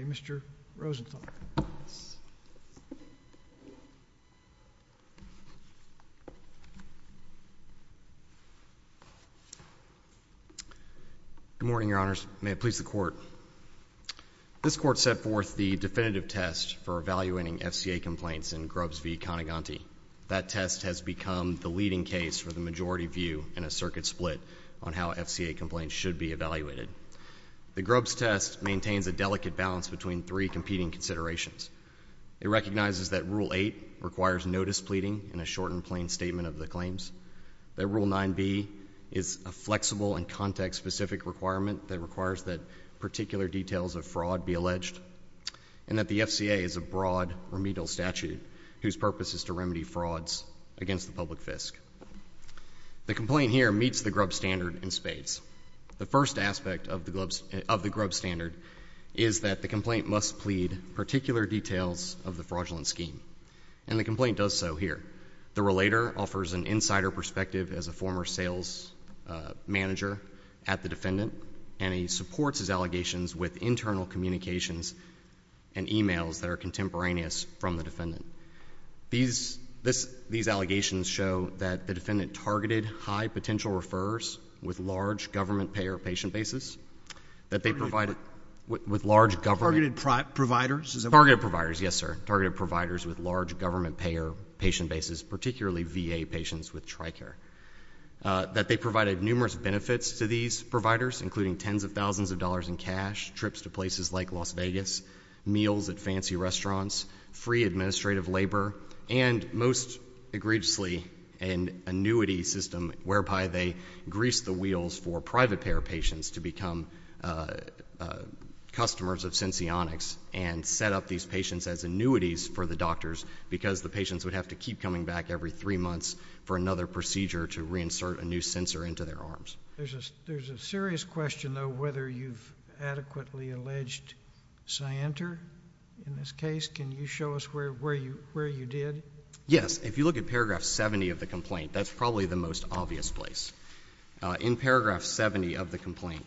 Good morning, Your Honors. May it please the Court. This Court set forth the definitive test for evaluating FCA complaints in Grubbs v. Coniganti. That test has become the leading case for the majority view in a circuit split on how The Grubbs test maintains a delicate balance between three competing considerations. It recognizes that Rule 8 requires notice pleading in a short and plain statement of the claims, that Rule 9b is a flexible and context-specific requirement that requires that particular details of fraud be alleged, and that the FCA is a broad remedial statute whose purpose is to remedy frauds against the public fisc. The complaint here meets the Grubbs standard in spades. The first aspect of the Grubbs standard is that the complaint must plead particular details of the fraudulent scheme, and the complaint does so here. The relator offers an insider perspective as a former sales manager at the defendant, and he supports his allegations with internal communications and e-mails that are contemporaneous from the defendant. These allegations show that the defendant targeted high potential referrers with large government payer patient bases, with large government providers, particularly VA patients with TRICARE. That they provided numerous benefits to these providers, including tens of thousands of dollars in cash, trips to places like Las Vegas, meals at fancy restaurants, free administrative labor, and most egregiously an annuity system whereby they greased the wheels for private payer patients to become customers of Senseonics and set up these patients as annuities for the doctors because the patients would have to keep coming back every three months for another procedure to reinsert a new sensor into their arms. There's a serious question, though, whether you've adequately alleged Scienter in this case. Can you show us where you did? Yes. If you look at paragraph 70 of the complaint, that's probably the most obvious place. In paragraph 70 of the complaint,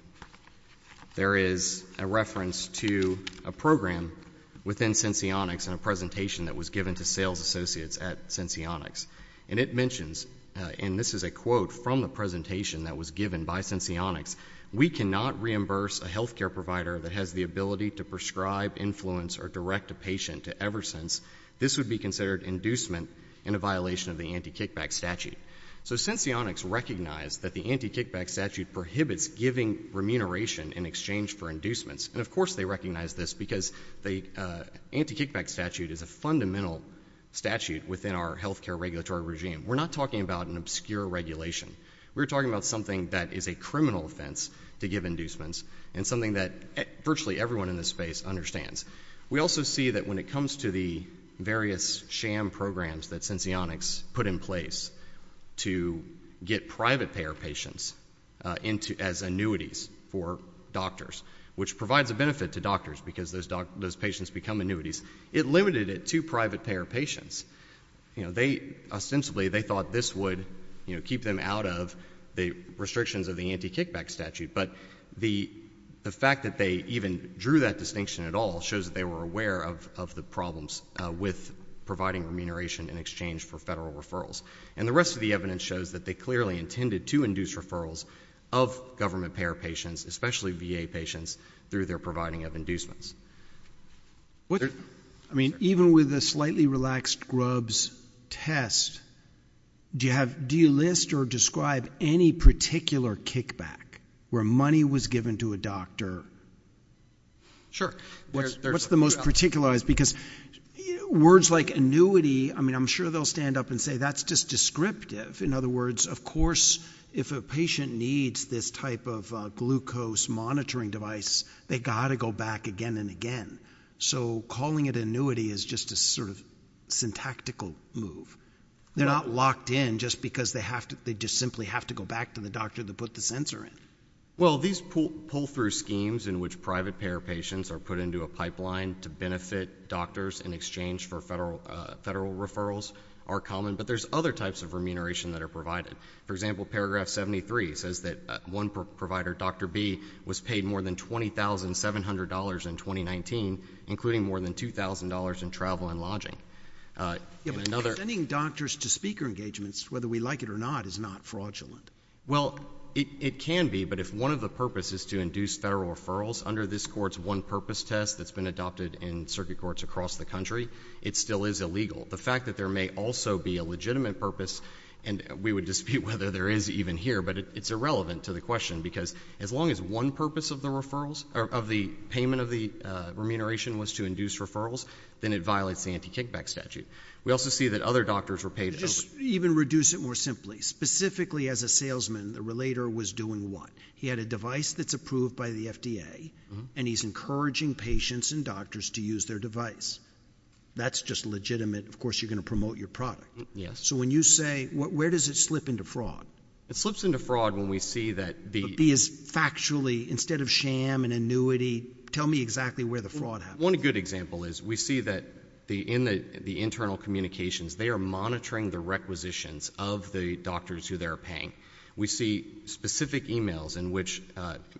there is a reference to a program within Senseonics and a presentation that was given to sales associates at Senseonics, and it mentions, and this is a quote from the presentation that was given by Senseonics, we cannot reimburse a health care provider that has the ability to prescribe, influence, or direct a patient to Eversense. This would be considered inducement in a violation of the anti-kickback statute. So Senseonics recognized that the anti-kickback statute prohibits giving remuneration in exchange for inducements, and of course they recognized this because the anti-kickback statute is a fundamental statute within our health care regulatory regime. We're not talking about an obscure regulation. We're talking about something that is a criminal offense to give inducements and something that virtually everyone in this space understands. We also see that when it comes to the various sham programs that Senseonics put in place to get private payer patients as annuities for doctors, which provides a benefit to doctors because those patients become annuities, it limited it to private payer patients. They, ostensibly, they thought this would keep them out of the restrictions of the anti-kickback statute, but the fact that they even drew that distinction at all shows that they were aware of the problems with providing remuneration in exchange for federal referrals. And the rest of the evidence shows that they clearly intended to induce referrals of government payer patients, especially VA patients, through their providing of inducements. I mean, even with a slightly relaxed Grubbs test, do you list or describe any particular kickback where money was given to a doctor? Sure. What's the most particular? Because words like annuity, I mean, I'm sure they'll stand up and say, that's just descriptive. In other words, of course, if a patient needs this type of glucose monitoring device, they got to go back again and again. So calling it annuity is just a sort of syntactical move. They're not locked in just because they have to, they just simply have to go back to the doctor to put the sensor in. Well, these pull through schemes in which private payer patients are put into a pipeline to benefit doctors in exchange for federal referrals are common, but there's other types of remuneration that are provided. For example, paragraph 73 says that one provider, Dr. B, was paid more than $20,700 in 2019, including more than $2,000 in travel and lodging. Yeah, but sending doctors to speaker engagements, whether we like it or not, is not fraudulent. Well, it can be, but if one of the purposes is to induce federal referrals under this court's one-purpose test that's been adopted in circuit courts across the country, it still is illegal. The fact that there may also be a legitimate purpose, and we would dispute whether there is even here, but it's irrelevant to the question, because as long as one purpose of the referrals, of the payment of the remuneration was to induce referrals, then it violates the anti-kickback statute. We also see that other doctors were paid over... Just even reduce it more simply. Specifically, as a salesman, the relator was doing what? He had a device that's approved by the FDA, and he's encouraging patients and doctors to use their device. That's just legitimate. Of course, you're going to promote your product. Yes. So when you say, where does it slip into fraud? It slips into fraud when we see that the... But B, is factually, instead of sham and annuity, tell me exactly where the fraud happens. One good example is, we see that in the internal communications, they are monitoring the requisitions of the doctors who they're paying. We see specific emails in which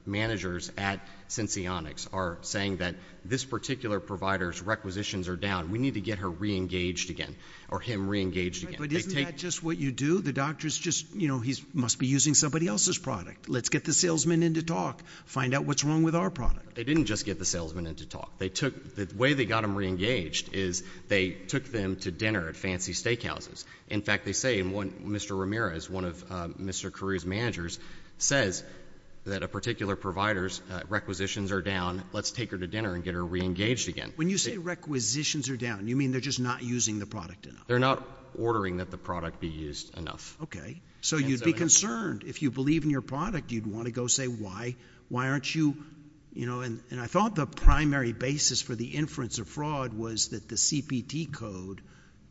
managers at Senseonics are saying that this particular provider's requisitions are down. We need to get her re-engaged again, or him re-engaged again. But isn't that just what you do? The doctor's just, you know, he must be using somebody else's product. Let's get the salesman in to talk. Find out what's wrong with our product. They didn't just get the salesman in to talk. They took... The way they got him re-engaged is they took them to dinner at fancy steakhouses. In fact, they say in one, Mr. Ramirez, one of Mr. Carew's managers, says that a particular provider's requisitions are down. Let's take her to dinner and get her re-engaged again. When you say requisitions are down, you mean they're just not using the product enough? They're not ordering that the product be used enough. Okay. So you'd be concerned. If you believe in your product, you'd want to go say why. Why aren't you, you know, and I thought the primary basis for the inference of fraud was that the CPT code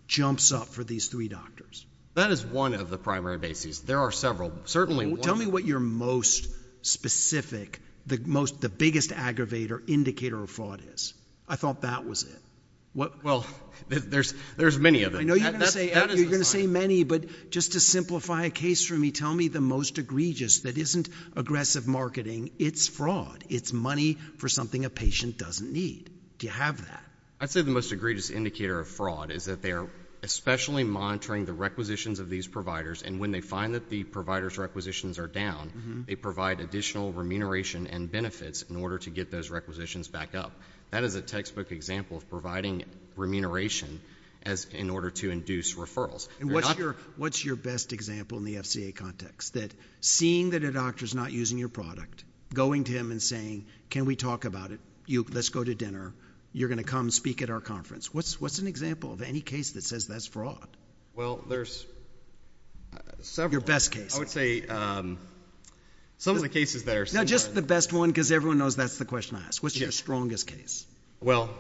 jumps up for these three doctors. That is one of the primary bases. There are several. Certainly... Tell me what your most specific, the most, the biggest aggravator, indicator of fraud is. I thought that was it. Well, there's many of them. I know you're going to say many, but just to simplify a case for me, tell me the most egregious that isn't aggressive marketing. It's fraud. It's money for something a patient doesn't need. Do you have that? I'd say the most egregious indicator of fraud is that they are especially monitoring the requisitions of these providers, and when they find that the provider's requisitions are down, they provide additional remuneration and benefits in order to get those requisitions back up. That is a textbook example of providing remuneration as, in order to induce referrals. And what's your, what's your best example in the FCA context? That seeing that a doctor's not using your product, going to him and saying, can we talk about it? You, let's go to dinner. You're going to come speak at our conference. What's, what's an example of any case that says that's fraud? Well, there's several. Your best case? I would say, um, some of the cases that are similar. No, just the best one, because everyone knows that's the question I ask. What's your strongest case? Well,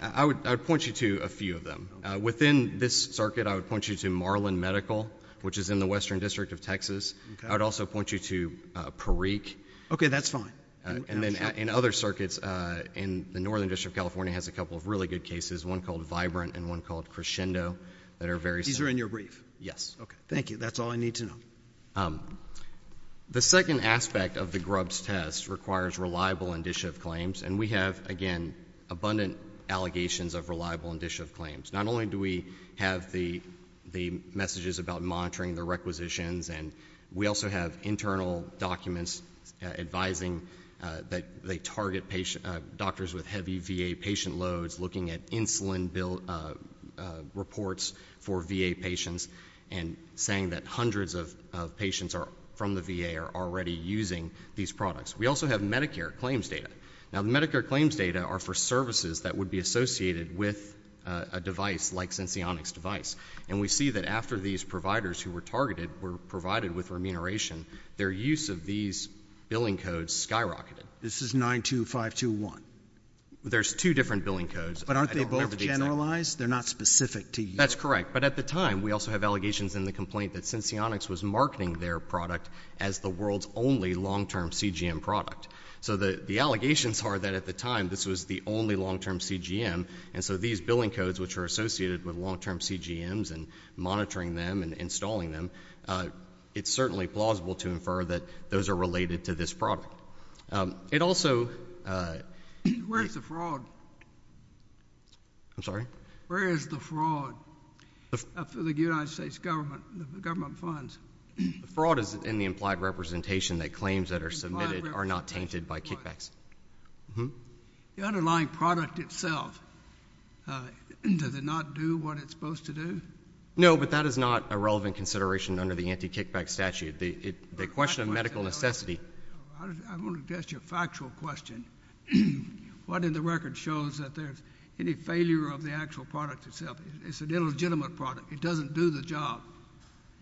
I would, I would point you to a few of them. Within this circuit, I would point you to Marlin Medical, which is in the Western District of Texas. I would also point you to Parikh. Okay, that's fine. And then in other circuits, uh, in the Northern District of California has a couple of really good cases, one called Vibrant and one called Crescendo that are very similar. These are in your brief? Yes. Okay, thank you. That's all I need to know. Um, the second aspect of the Grubbs test requires reliable and dischievous claims. And we have, again, abundant allegations of reliable and dischievous claims. Not only do we have the, the messages about monitoring the requisitions, and we also have internal documents, uh, advising that they target patient, uh, doctors with heavy VA patient loads, looking at insulin bill, uh, uh, reports for VA patients, and saying that hundreds of, of patients are, from the VA are already using these products. We also have Medicare claims data. Now, the Medicare claims data are for services that would be associated with a device like Syncyonix device. And we see that after these providers who were targeted were provided with remuneration, their use of these billing codes skyrocketed. This is 92521. There's two different billing codes. But aren't they both generalized? They're not specific to you. That's correct. But at the time, we also have allegations in the complaint that Syncyonix was marketing their product as the world's only long-term CGM product. So the, the allegations are that at the time, this was the only long-term CGM. And so these billing codes, which are available to infer that those are related to this product. Um, it also, uh... Where's the fraud? I'm sorry? Where is the fraud? The... Uh, for the United States government, the government funds. The fraud is in the implied representation that claims that are submitted are not tainted by kickbacks. Mm-hmm. The underlying product itself, uh, does it not do what it's supposed to do? No, but that is not a relevant consideration under the anti-kickback statute. The, it, the question of medical necessity... I want to test your factual question. What in the record shows that there's any failure of the actual product itself? It's an illegitimate product. It doesn't do the job.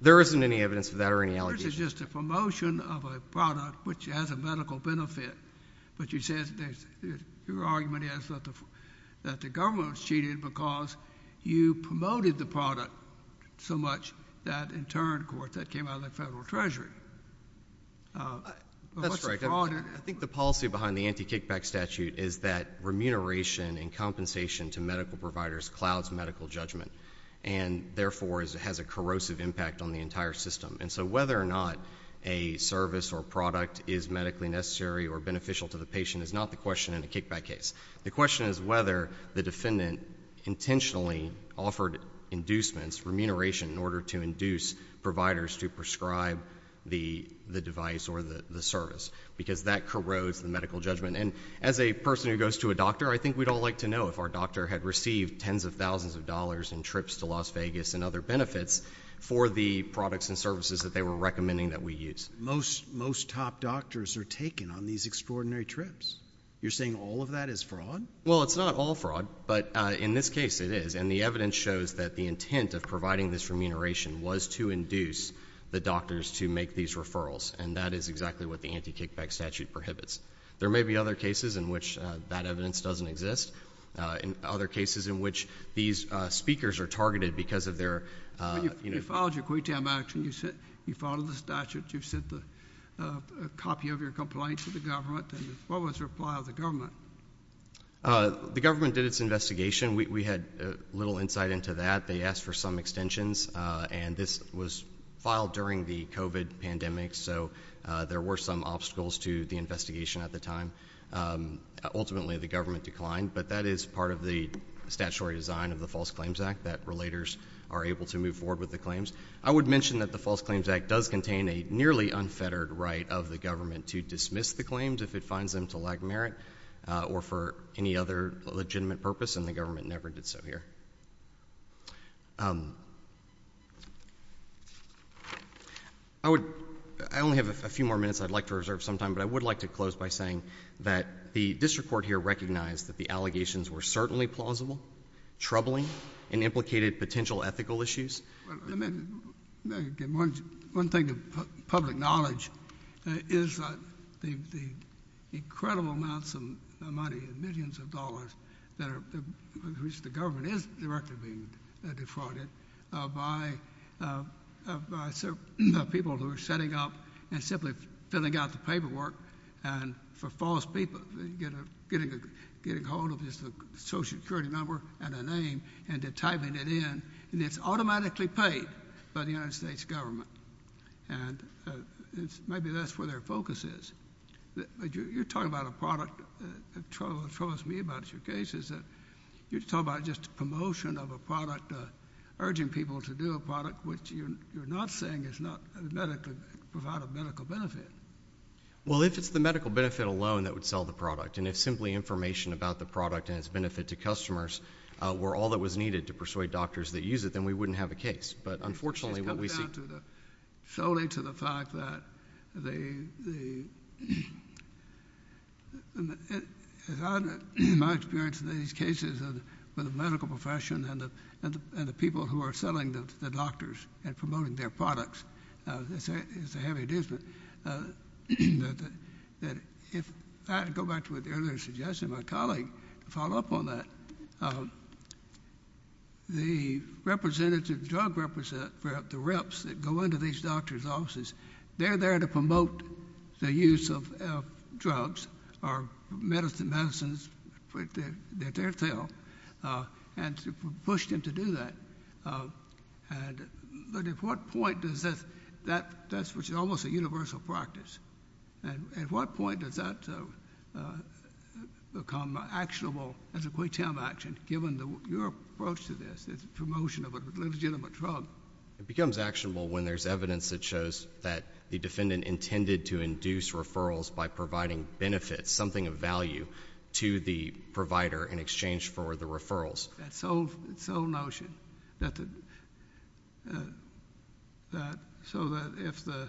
There isn't any evidence of that or any allegations. This is just a promotion of a product which has a medical benefit. But you said there's, your argument is that the, that the government was cheated because you promoted the product so much that in turn, of course, that came out of the federal treasury. Uh, but what's the fraud in... That's right. I think the policy behind the anti-kickback statute is that remuneration and compensation to medical providers clouds medical judgment and therefore has a corrosive impact on the entire system. And so whether or not a service or product is medically necessary or beneficial to the patient is not the question in a kickback case. The question is whether the defendant intentionally offered inducements, remuneration in order to induce providers to prescribe the device or the service because that corrodes the medical judgment. And as a person who goes to a doctor, I think we'd all like to know if our doctor had received tens of thousands of dollars in trips to Las Vegas and other benefits for the products and services that they were recommending that we use. Most, most top doctors are taken on these extraordinary trips. You're saying all of that is fraud? Well, it's not all fraud, but in this case it is. And the evidence shows that the intent of providing this remuneration was to induce the doctors to make these referrals. And that is exactly what the anti-kickback statute prohibits. There may be other cases in which that evidence doesn't exist. Uh, in other cases in which these, uh, speakers are targeted because of their, uh, you know... A copy of your complaint to the government. What was the reply of the government? The government did its investigation. We had little insight into that. They asked for some extensions and this was filed during the COVID pandemic. So, uh, there were some obstacles to the investigation at the time. Um, ultimately the government declined, but that is part of the statutory design of the False Claims Act that relators are able to move forward with the claims. I would mention that the False Claims Act does contain a nearly unfettered right of the government to dismiss the claims if it finds them to lack merit, uh, or for any other legitimate purpose and the government never did so here. Um, I would, I only have a few more minutes I'd like to reserve some time, but I would like to close by saying that the district court here recognized that the allegations were certainly plausible, troubling, and implicated potential ethical issues. One thing of public knowledge is that the incredible amounts of money, millions of dollars, that are, which the government is directly being defrauded, uh, by, uh, by certain people who are setting up and simply filling out the paperwork and for false people, you know, getting a, getting hold of just a social security number and a name and to typing it in and it's automatically paid by the United States government. And, uh, it's maybe that's where their focus is. You're talking about a product that troubles me about your cases that you're talking about just a promotion of a product, uh, urging people to do a product, which you're not saying is not medically, provide a medical benefit. Well, if it's the medical benefit alone that would sell the product and it's simply information about the product and its benefit to customers, uh, were all that was needed to persuade doctors that use it, then we wouldn't have a case. But unfortunately what we see solely to the fact that the, the, my experience in these cases with the medical profession and the, and the, and the people who are selling the doctors and promoting their products, uh, is a heavy adjustment. Uh, that if I go back to what the earlier suggestion, my colleague to follow up on that, um, the representative drug represent for the reps that go into these doctor's offices, they're there to promote the use of drugs or medicine medicines that they're tell, uh, and to push them to do that. Uh, and, but at what point does this, that, that's what's almost a universal practice. And at what point does that, uh, uh, become actionable as a quick time action, given the, your approach to this, there's a promotion of a legitimate drug. It becomes actionable when there's evidence that shows that the defendant intended to induce referrals by providing benefits, something of value to the provider in exchange for the referrals. That's old. It's old notion that the, uh, that, so that if the,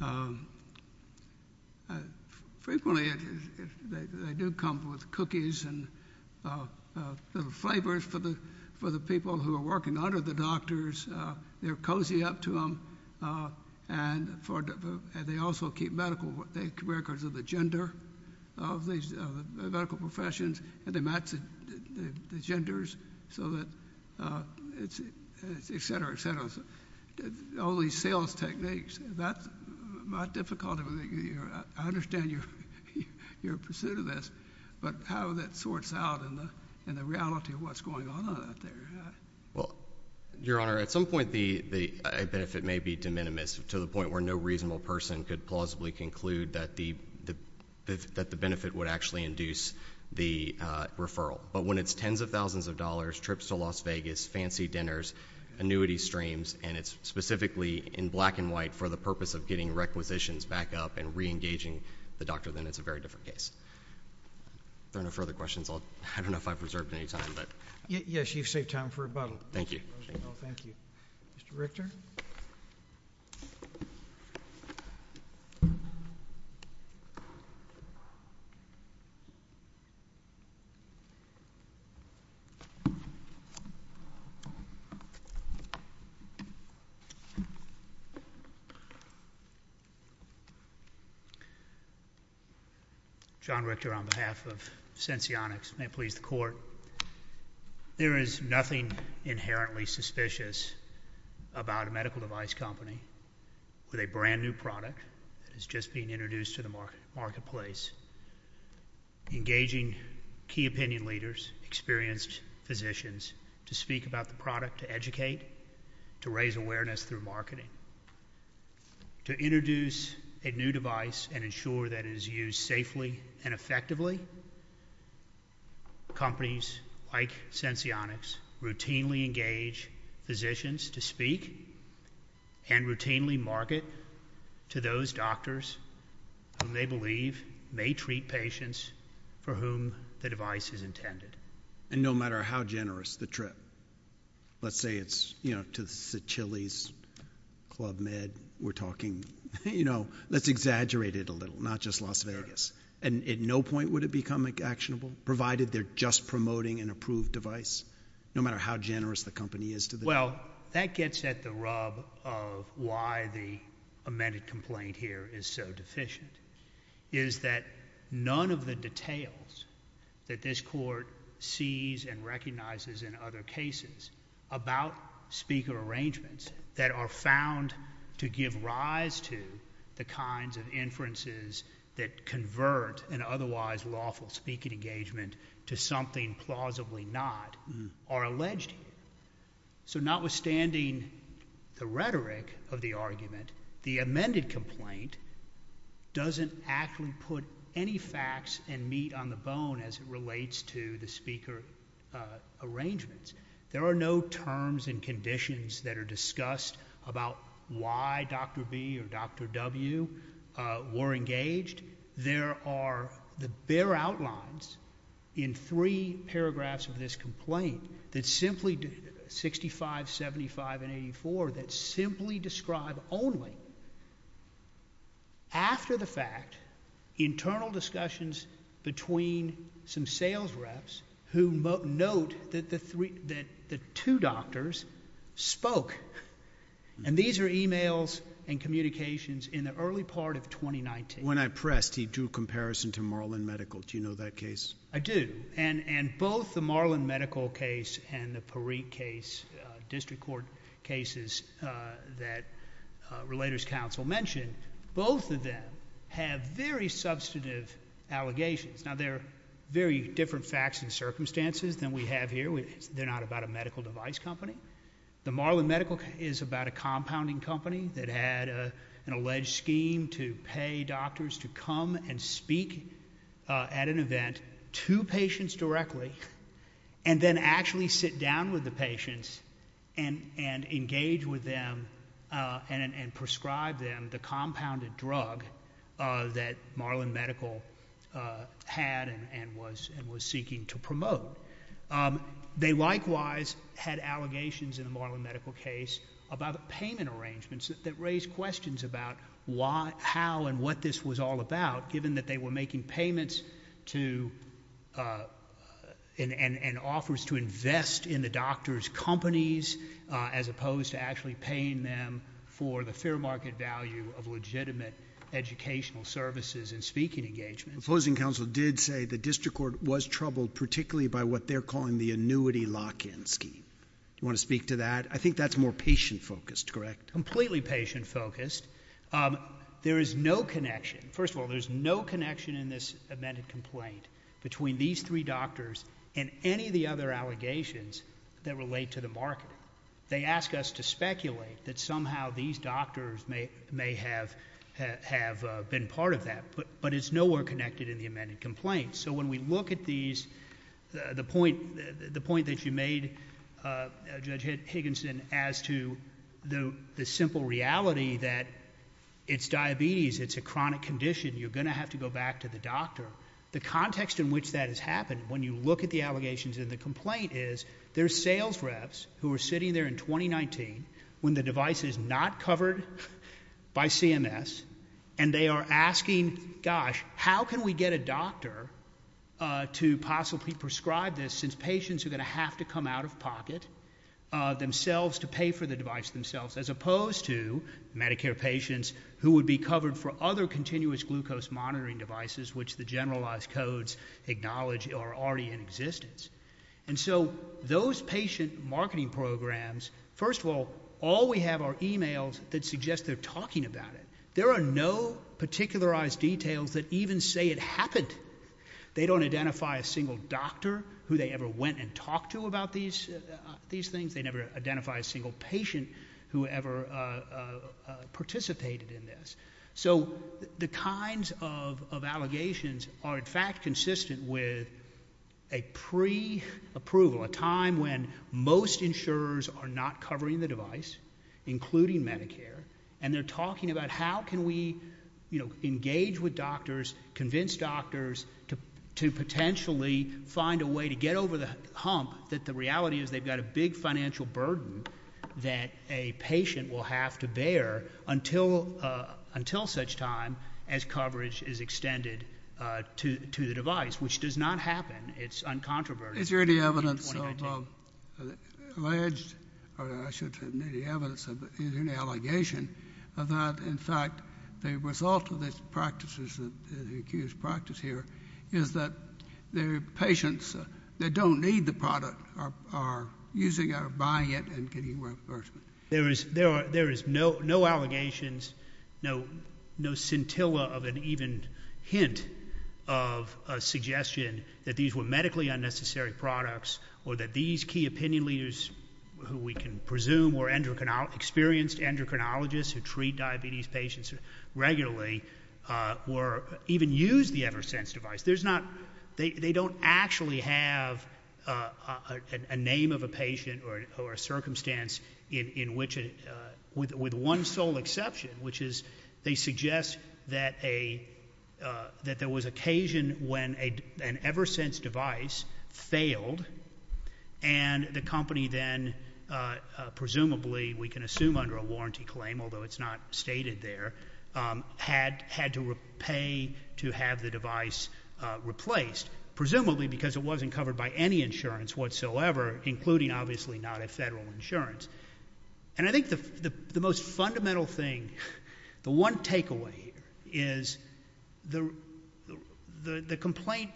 um, uh, frequently they do come with cookies and, uh, uh, flavors for the, for the people who are working under the doctors, uh, they're cozy up to them. Uh, and for, uh, and they also keep medical records of the gender of these medical professions and they match the genders so that, uh, it's, et cetera, et cetera. So all these sales techniques, that's my difficulty with the year. I understand your, your pursuit of this, but how that sorts out in the, in the reality of what's going on out there. Well, your honor, at some point, the, the, a benefit may be de minimis to the point where no reasonable person could plausibly conclude that the, the, that the benefit would actually induce the, uh, referral, but when it's tens of thousands of dollars trips to Las Vegas, fancy dinners, annuity streams, and it's specifically in black and white for the purpose of getting requisitions back up and reengaging the doctor, then it's a very different case. There are no further questions. I'll, I don't know if I've reserved any time, but yes, you've saved time for a bottle. Thank you. Thank you. Mr. Richter. John Richter on behalf of Senseonics, may it please the court. There is nothing inherently suspicious about a medical device company with a brand new product that is just being introduced to the market marketplace, engaging key opinion leaders, experienced physicians to speak about the product, to educate, to raise awareness through marketing, to introduce a new device and ensure that it is used safely and effectively. Companies like Senseonics routinely engage physicians to speak and routinely market to those doctors whom they believe may treat patients for whom the device is intended. And no matter how generous the trip, let's say it's, you know, to the Chili's Club Med we're talking, you know, let's exaggerate it a little, not just Las Vegas. And at no point would it become actionable provided they're just promoting an approved device, no matter how generous the company is to them. Well, that gets at the rub of why the amended complaint here is so deficient is that none of the details that this court sees and recognizes in other cases about speaker arrangements that are found to give rise to the kinds of inferences that convert and otherwise lawful speaking engagement to something plausibly not are alleged. So notwithstanding the rhetoric of the argument, the amended complaint doesn't actually put any facts and meat on the bone as it relates to the speaker arrangements. There are no terms and conditions that are discussed about why Dr. B or Dr. W were engaged. There are the bare outlines in three paragraphs of this complaint that simply, 65, 75 and 84, that simply describe only after the fact, internal discussions between some sales reps who note that the three, that the two doctors spoke. And these are emails and communications in the early part of 2019. When I pressed, he drew comparison to Marlin Medical. Do you know that case? I do. And, and both the Marlin Medical case and the Parikh case, a district court cases that a Relators Council mentioned, both of them have very substantive allegations. Now they're very different facts and circumstances than we have here. They're not about a medical device company. The Marlin Medical is about a compounding company that had a, an alleged scheme to pay doctors to come and speak at an event to patients directly and then actually sit down with the patients and, and engage with them and, and prescribe them the compounded drug that Marlin Medical had and was, and was seeking to promote. They likewise had allegations in the Marlin Medical case about payment arrangements that raised questions about why, how and what this was all about, given that they were making payments to and, and offers to invest in the doctor's companies as opposed to actually paying them for the fair market value of legitimate educational services and speaking engagements. The opposing council did say the district court was troubled particularly by what they're calling the annuity lock-in scheme. Do you want to speak to that? I think that's more patient focused, correct? Completely patient focused. Um, there is no connection. First of all, there's no connection in this amended complaint between these three doctors and any of the other allegations that relate to the market. They ask us to speculate that somehow these doctors may, may have, have been part of that, but, but it's nowhere connected in the amended complaint. So when we look at these, the point, the point that you made Judge Higginson as to the, the simple reality that it's diabetes, it's a chronic condition. You're going to have to go back to the doctor. The context in which that has happened when you look at the allegations in the complaint is their sales reps who are sitting there in 2019 when the device is not covered by CMS and they are asking, gosh, how can we get a doctor to possibly prescribe this since patients are going to have to come out of pocket themselves to pay for the device themselves as opposed to Medicare patients who would be covered for other continuous glucose monitoring devices, which the generalized codes acknowledge are already in existence. And so those patient marketing programs, first of all, all we have are emails that suggest they're talking about it. There are no particularized details that even say it happened. They don't identify a single doctor who they ever went and talked to about these, these things. They never identify a single patient who ever participated in this. So the kinds of, of allegations are in fact consistent with a pre approval, a time when most insurers are not covering the device, including Medicare and they're talking about how can we, you know, engage with doctors, convince doctors to potentially find a way to get over the hump that the reality is they've got a big financial burden that a patient will have to bear until, until such time as coverage is extended to the device, which does not happen. It's uncontroversial. Is there any evidence of alleged, or I should have made the evidence of an allegation of that? In fact, the result of this practices that the accused practice here is that their patients that don't need the product are, are using our buying it and getting reimbursement. There is, there are, there is no, no allegations, no, no scintilla of an even hint of a suggestion that these were medically unnecessary products or that these key opinion leaders who we can presume were endocrine experienced endocrinologists who treat diabetes patients regularly were even use the ever sense device. There's not, they don't actually have a name of a patient or, or a circumstance in, in which, with, with one sole exception, which is they suggest that a that there was occasion when a, an ever sense device failed and the company then presumably we can assume under a warranty claim, although it's not stated there, had had to pay to have the device replaced, presumably because it wasn't covered by any insurance whatsoever, including obviously not a federal insurance. And I think the, the, the most fundamental thing, the one takeaway is the, the, the complaint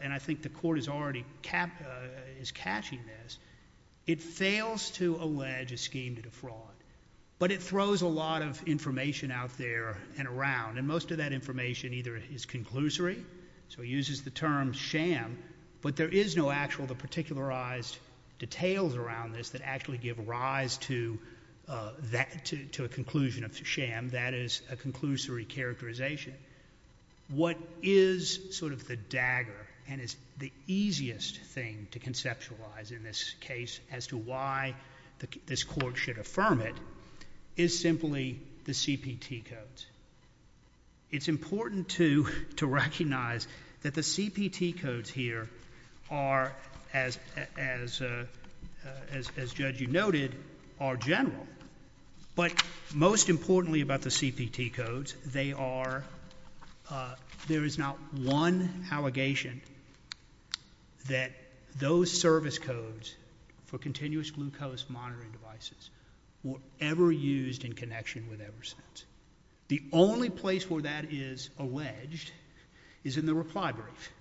and I think the court is already cap is catching this. It fails to allege a scheme to defraud, but it throws a lot of information out there and around. And most of that information either is conclusory. So he uses the term sham, but there is no actual the particularized details around this that actually give rise to that, to, to a conclusion of sham. That is a conclusory characterization. What is sort of the dagger and is the easiest thing to conceptualize in this case as to why this court should affirm it is simply the CPT codes. It's important to, to recognize that the CPT codes here are as, as, as, as, as judge, you noted are general, but most importantly about the CPT codes, they are, uh, there is not one allegation that those service codes for continuous glucose monitoring devices were ever used in connection with ever since. The only place where that is alleged is in the reply brief,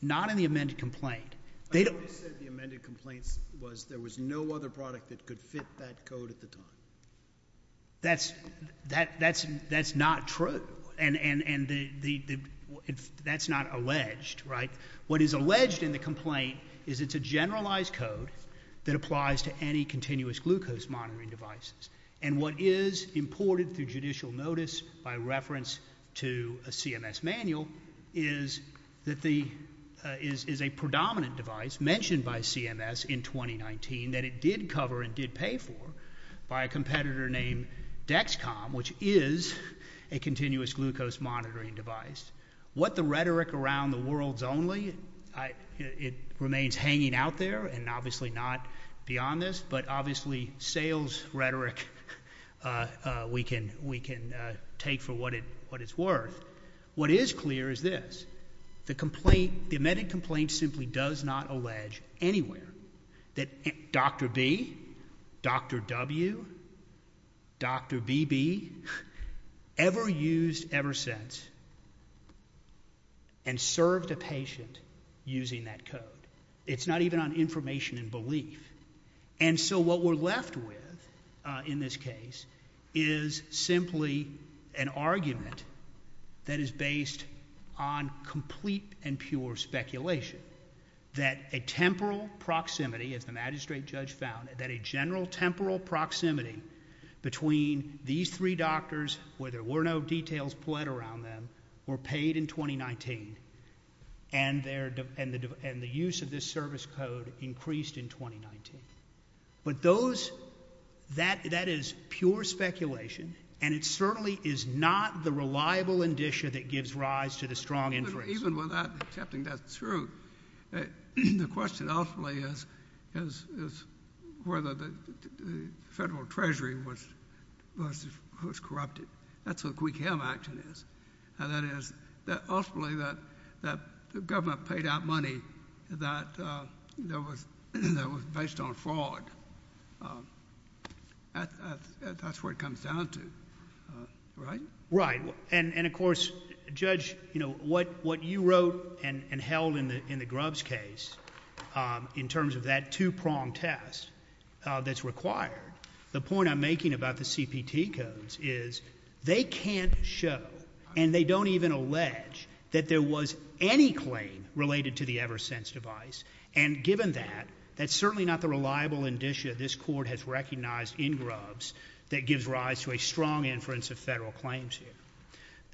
not in the amended complaint. They said the amended complaints was there was no other product that could fit that code at the time. That's that, that's, that's not true. And, and, and the, the, the, that's not alleged, right? What is alleged in the complaint is it's a generalized code that applies to any continuous glucose monitoring devices. And what is imported through judicial notice by reference to a CMS manual is that the, uh, is, is a predominant device mentioned by CMS in 2019 that it did cover and did pay for by a competitor named Dexcom, which is a continuous glucose monitoring device. What the rhetoric around the world's only I, it remains hanging out there and obviously not beyond this, but obviously sales rhetoric, uh, uh, we can, we can, uh, take for what it, what it's worth. What is clear is this, the complaint, the amended complaint simply does not allege anywhere that Dr. B, Dr. W, Dr. BB ever used, ever since and served a patient using that code. It's not even on information and belief. And so what we're left with in this case is simply an argument that is based on complete and pure speculation that a temporal proximity as the ground, that a general temporal proximity between these three doctors, where there were no details played around them were paid in 2019 and their, and the, and the use of this service code increased in 2019. But those that, that is pure speculation. And it certainly is not the reliable indicia that gives rise to the strong influence. Even without accepting that's true. The question ultimately is, is, is whether the federal treasury was, was, was corrupted. That's what we can have action is. And that is that ultimately that, that the government paid out money that, uh, there was, that was based on fraud. Um, that's where it comes down to. Uh, right. Right. And of course, judge, you know, what, what you wrote and held in the, in the grubs case, um, in terms of that two prong test, uh, that's required. The point I'm making about the CPT codes is they can't show and they don't even allege that there was any claim related to the ever since device. And given that, that's certainly not the reliable indicia. This court has recognized in grubs that gives rise to a strong inference of federal claims here.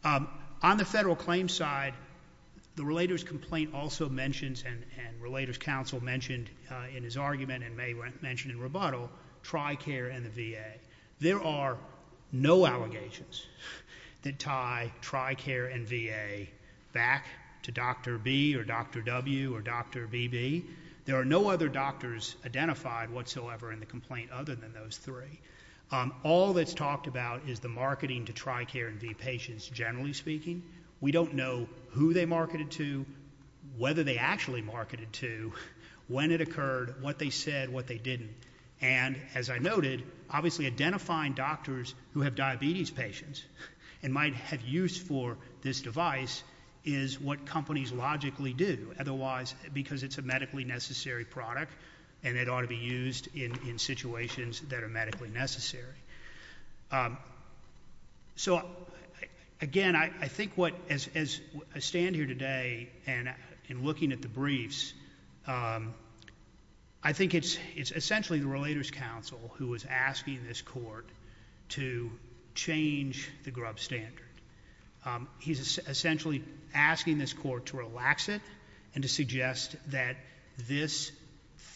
Um, on the federal claim side, the relators complaint also mentions and, and relators council mentioned in his argument and may mention in rebuttal, try care and the VA. There are no allegations that tie try care and VA back to dr B or dr W or dr BB. There are no other doctors identified whatsoever in the complaint other than those three. Um, all that's talked about is the marketing to try care and V patients. Generally speaking, we don't know who they marketed to, whether they actually marketed to when it occurred, what they said, what they didn't. And as I noted, obviously identifying doctors who have diabetes patients and might have used for this device is what companies logically do. Otherwise, because it's a medically necessary product and it ought to be um, so again, I think what, as, as I stand here today, and in looking at the briefs, um, I think it's, it's essentially the relators council who was asking this court to change the grub standard. Um, he's essentially asking this court to relax it and to suggest that this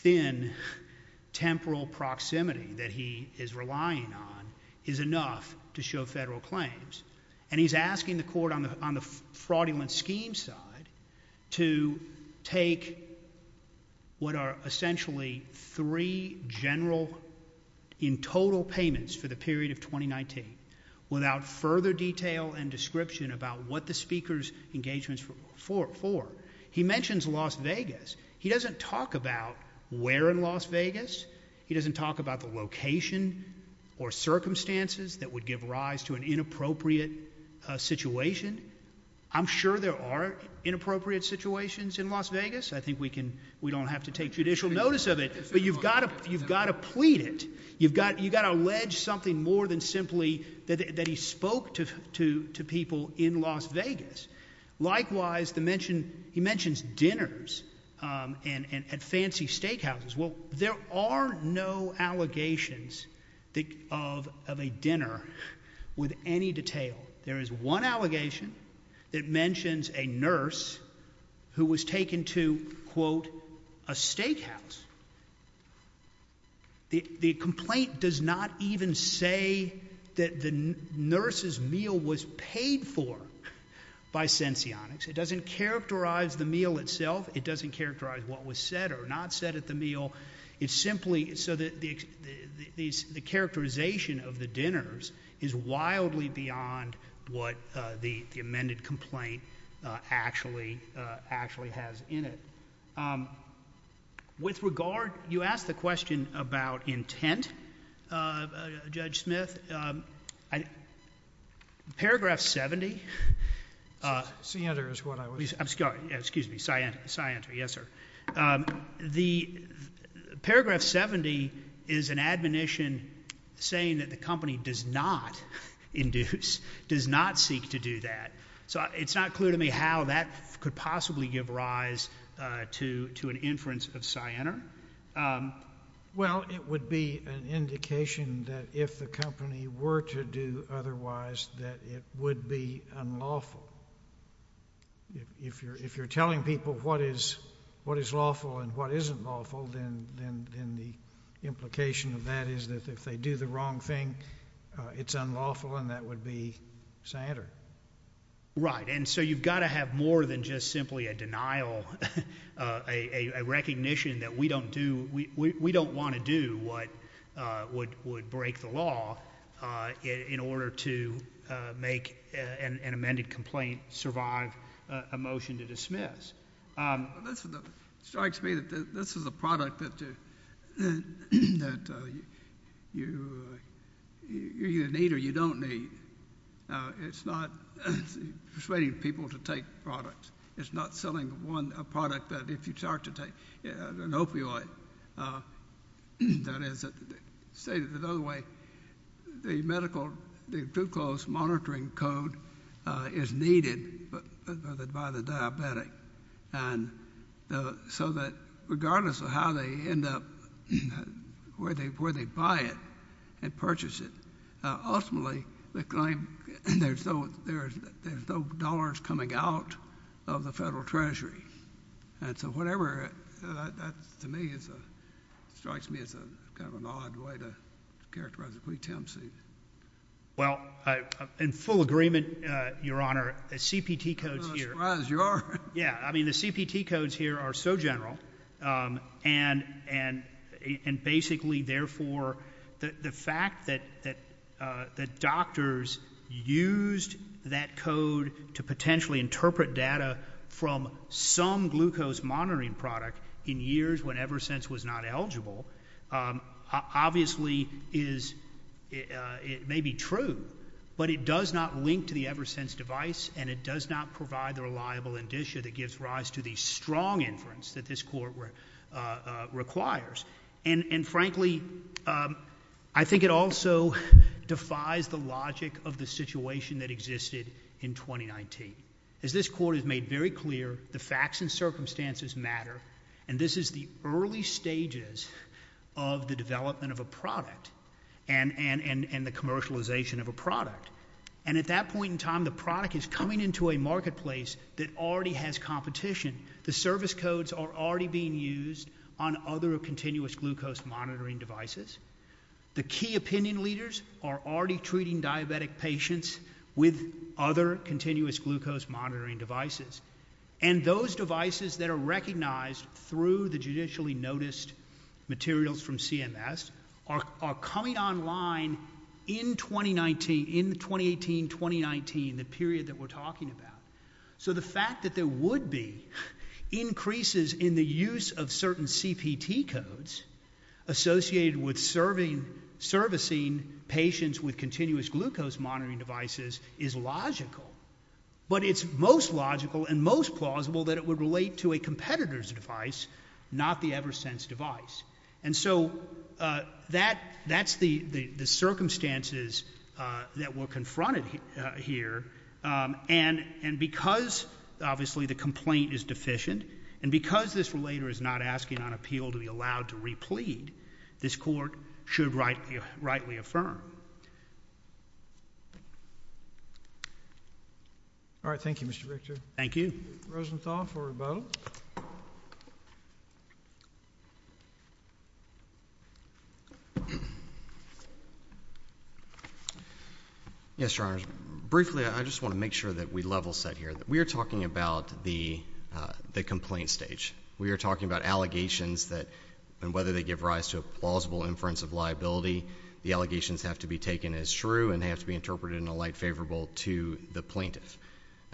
thin temporal proximity that he is relying on is enough to show federal claims. And he's asking the court on the, on the fraudulent scheme side to take what are essentially three general in total payments for the period of 2019 without further detail and description about what the speaker's engagements for, for, for he mentions Las Vegas. He doesn't talk about where in Las Vegas, he doesn't talk about the location or circumstances that would give rise to an inappropriate situation. I'm sure there are inappropriate situations in Las Vegas. I think we can, we don't have to take judicial notice of it, but you've got to, you've got to plead it. You've got, you got to allege something more than simply that he spoke to, to, to people in Las Vegas. Likewise, the mention, he mentions dinners, um, and, and at fancy steakhouses. Well, there are no allegations that of, of a dinner with any detail. There is one allegation that mentions a nurse who was taken to quote a steakhouse. The, the complaint does not even say that the nurse's meal was paid for by Stencionics. It doesn't characterize the meal itself. It doesn't characterize what was said or not said at the meal. It's simply so that the, the, these, the characterization of the dinners is wildly beyond what the, the amended complaint actually actually has in it. Um, with regard, you asked the question about intent, uh, Judge Smith, um, I, paragraph 70, uh, Sienner is what I was, I'm sorry, excuse me, Sienner, Sienner. Yes, sir. Um, the paragraph 70 is an admonition saying that the company does not induce, does not seek to do that. So it's not clear to me how that could possibly give rise, uh, to, to an inference of Sienner. Um, well it would be an indication that if the company were to do otherwise, otherwise that it would be unlawful. If you're, if you're telling people what is, what is lawful and what isn't lawful, then, then, then the implication of that is that if they do the wrong thing, uh, it's unlawful and that would be Sienner. Right. And so you've got to have more than just simply a denial, uh, a recognition that we don't do, we, we, we don't want to do what, uh, would, would break the law, uh, in, in order to, uh, make, uh, an amended complaint survive a motion to dismiss. Um, this is the strikes me that this is a product that, uh, that, uh, you, you, you need or you don't need. Uh, it's not persuading people to take products. It's not selling one product that if you start to take an opioid, uh, that is stated another way, the medical, the glucose monitoring code, uh, is needed, but, but by the diabetic and the, so that regardless of how they end up where they, where they buy it and purchase it, uh, ultimately the claim there's no, there's, there's no dollars coming out of the federal treasury. And so whatever, uh, that to me is a strikes me as a, kind of an odd way to characterize it. We, Tim C. Well, uh, in full agreement, uh, your honor, the CPT codes here. Yeah. I mean, the CPT codes here are so general. Um, and, and, and basically therefore the fact that, that, uh, that doctors used that code to potentially interpret data from some glucose monitoring product in years when Eversense was not eligible, um, obviously is, uh, it may be true, but it does not link to the Eversense device and it does not provide the reliable indicia that gives rise to the strong inference that this court, uh, uh, requires. And, and frankly, um, I think it also defies the logic of the situation that existed in 2019. As this court has made very clear, the facts and circumstances matter. And this is the early stages of the development of a product and, and, and, and the commercialization of a product. And at that point in time, the product is coming into a marketplace that already has competition. The service codes are already being used on other continuous glucose monitoring devices. The key opinion leaders are already treating diabetic patients with other continuous glucose monitoring devices. And those devices that are recognized through the judicially noticed materials from CMS are coming online in 2019, in 2018, 2019, the period that we're talking about. So the fact that there would be increases in the use of certain CPT codes associated with serving, servicing patients with continuous glucose monitoring devices is logical. But it's most logical and most plausible that it would relate to a competitor's device, not the Eversense device. And so, uh, that, that's the, the, the circumstances, uh, that were confronted, uh, here. Um, and, and because obviously the complaint is deficient and because this relator is not asking on appeal to be allowed to replete this court should rightly, rightly affirm. All right. Thank you, Mr. Richter. Thank you. Rosenthal for rebuttal. Yes, Your Honor. Briefly, I just want to make sure that we level set here, that we are talking about the, uh, the complaint stage. We are talking about allegations that, and whether they give rise to a plausible inference of liability, the allegations have to be taken as true and they have to be interpreted in a light favorable to the plaintiff.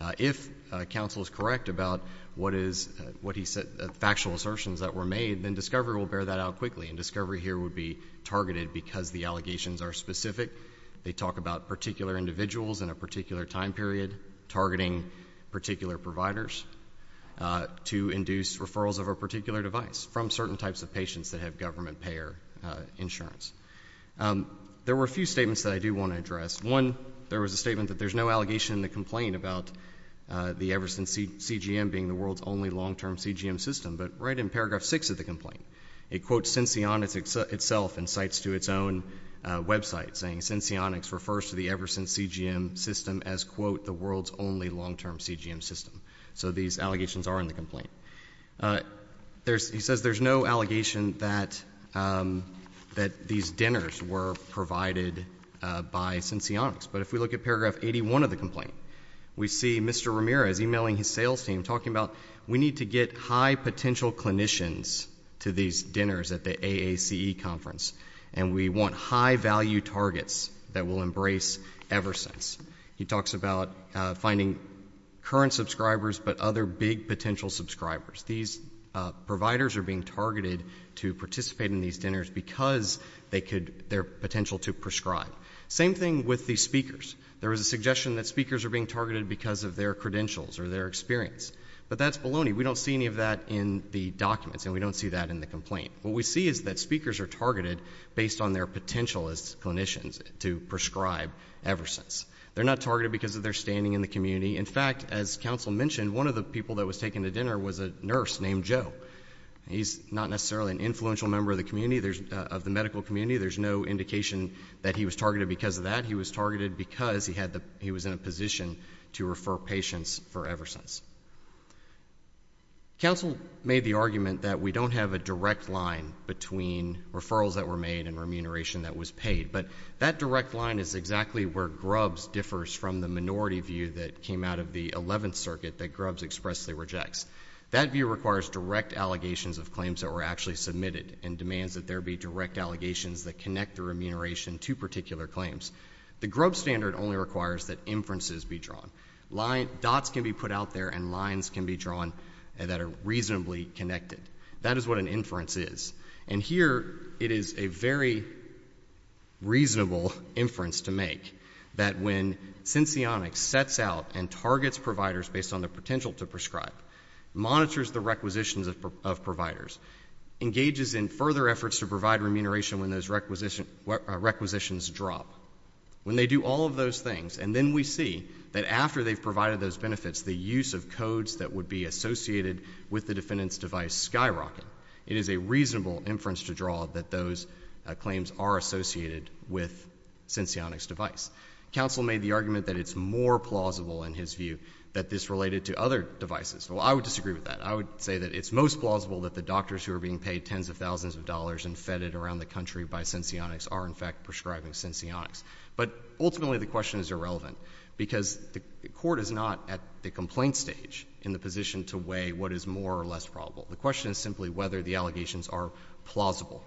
Uh, if a counsel is correct about what is what he said, the factual assertions that were made, then discovery will bear that out quickly and discovery here would be targeted because the allegations are specific. They talk about particular individuals in a particular time period, targeting particular providers, uh, to induce referrals of a particular device from certain types of patients that have government payer, uh, insurance. Um, there were a few statements that I do want to address. One, there was a statement that there's no allegation in the complaint about, uh, the Everson CGM being the world's only long-term CGM system, but right in paragraph six of the complaint, it quotes since the Onyx itself and sites to its own website saying since the Onyx refers to the Everson CGM system as quote, the world's only long-term CGM system. So these allegations are in the complaint. Uh, there's, he says there's no allegation that, um, that these dinners were provided, uh, by since the Onyx. But if we look at paragraph 81 of the complaint, we see Mr. Ramirez emailing his sales team talking about, we need to get high potential clinicians to these dinners at the AAC conference. And we want high value targets that will embrace Everson's. He talks about, uh, finding current subscribers, but other big potential subscribers. These providers are being targeted to participate in these dinners because they could their potential to prescribe same thing with the speakers. There was a suggestion that speakers are being targeted because of their credentials or their experience, but that's baloney. We don't see any of that in the documents and we don't see that in the complaint. What we see is that speakers are targeted based on their potential as clinicians to prescribe Everson's. They're not targeted because of their standing in the community. In fact, as council mentioned, one of the people that was taking the dinner was a nurse named Joe. He's not necessarily an influential member of the community. There's of the medical community. There's no indication that he was targeted because of that. He was targeted because he had the, he was in a position to refer patients for Everson's council made the argument that we don't have a direct line between referrals that were made and remuneration that was paid. But that direct line is exactly where grubs differs from the minority view that came out of the 11th circuit that grubs expressly rejects. That view requires direct allegations of claims that were actually submitted and demands that there be direct allegations that connect the remuneration to particular claims. The grub standard only requires that inferences be drawn. Dots can be put out there and lines can be drawn that are reasonably connected. That is what an inference is. And here it is a very reasonable inference to make that when since the onyx sets out and targets providers based on the potential to prescribe monitors the requisitions of providers engages in further efforts to provide remuneration when those requisition requisitions drop when they do all of those things. And then we see that after they've provided those benefits, the use of codes that would be associated with the defendant's device skyrocket. It is a reasonable inference to draw that those claims are associated with since the onyx device. Counsel made the argument that it's more plausible in his view that this related to other devices. Well, I would disagree with that. I would say that it's most plausible that the doctors who are being paid tens of thousands of dollars and fed it around the country by since the onyx are in fact prescribing since the onyx. But ultimately the question is irrelevant because the court is not at the complaint stage in the position to weigh what is more or less probable. The question is simply whether the allegations are plausible.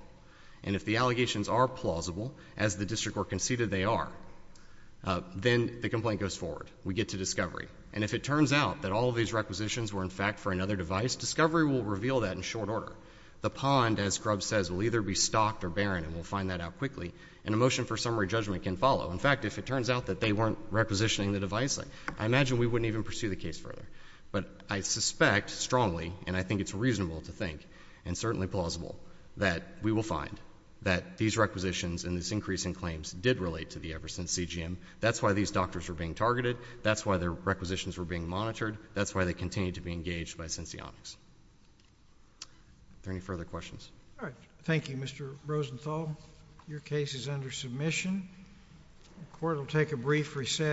And if the allegations are plausible as the district were conceded they are, then the complaint goes forward. We get to discovery. And if it turns out that all of these requisitions were in fact for another device, discovery will reveal that in short order. The pond, as Grubb says, will either be stocked or barren and we'll find that out quickly. And a motion for summary judgment can follow. In fact, if it turns out that they weren't requisitioning the device, I imagine we wouldn't even pursue the case further. But I suspect strongly and I think it's reasonable to think and certainly plausible that we will find that these requisitions and this increase in claims did relate to the ever since CGM. That's why these doctors were being targeted. That's why their requisitions were being monitored. That's why they continue to be engaged by since the onyx. Are there any further questions? All right. Thank you, Mr. Rosenthal. Your case is under submission. The court will take a brief recess.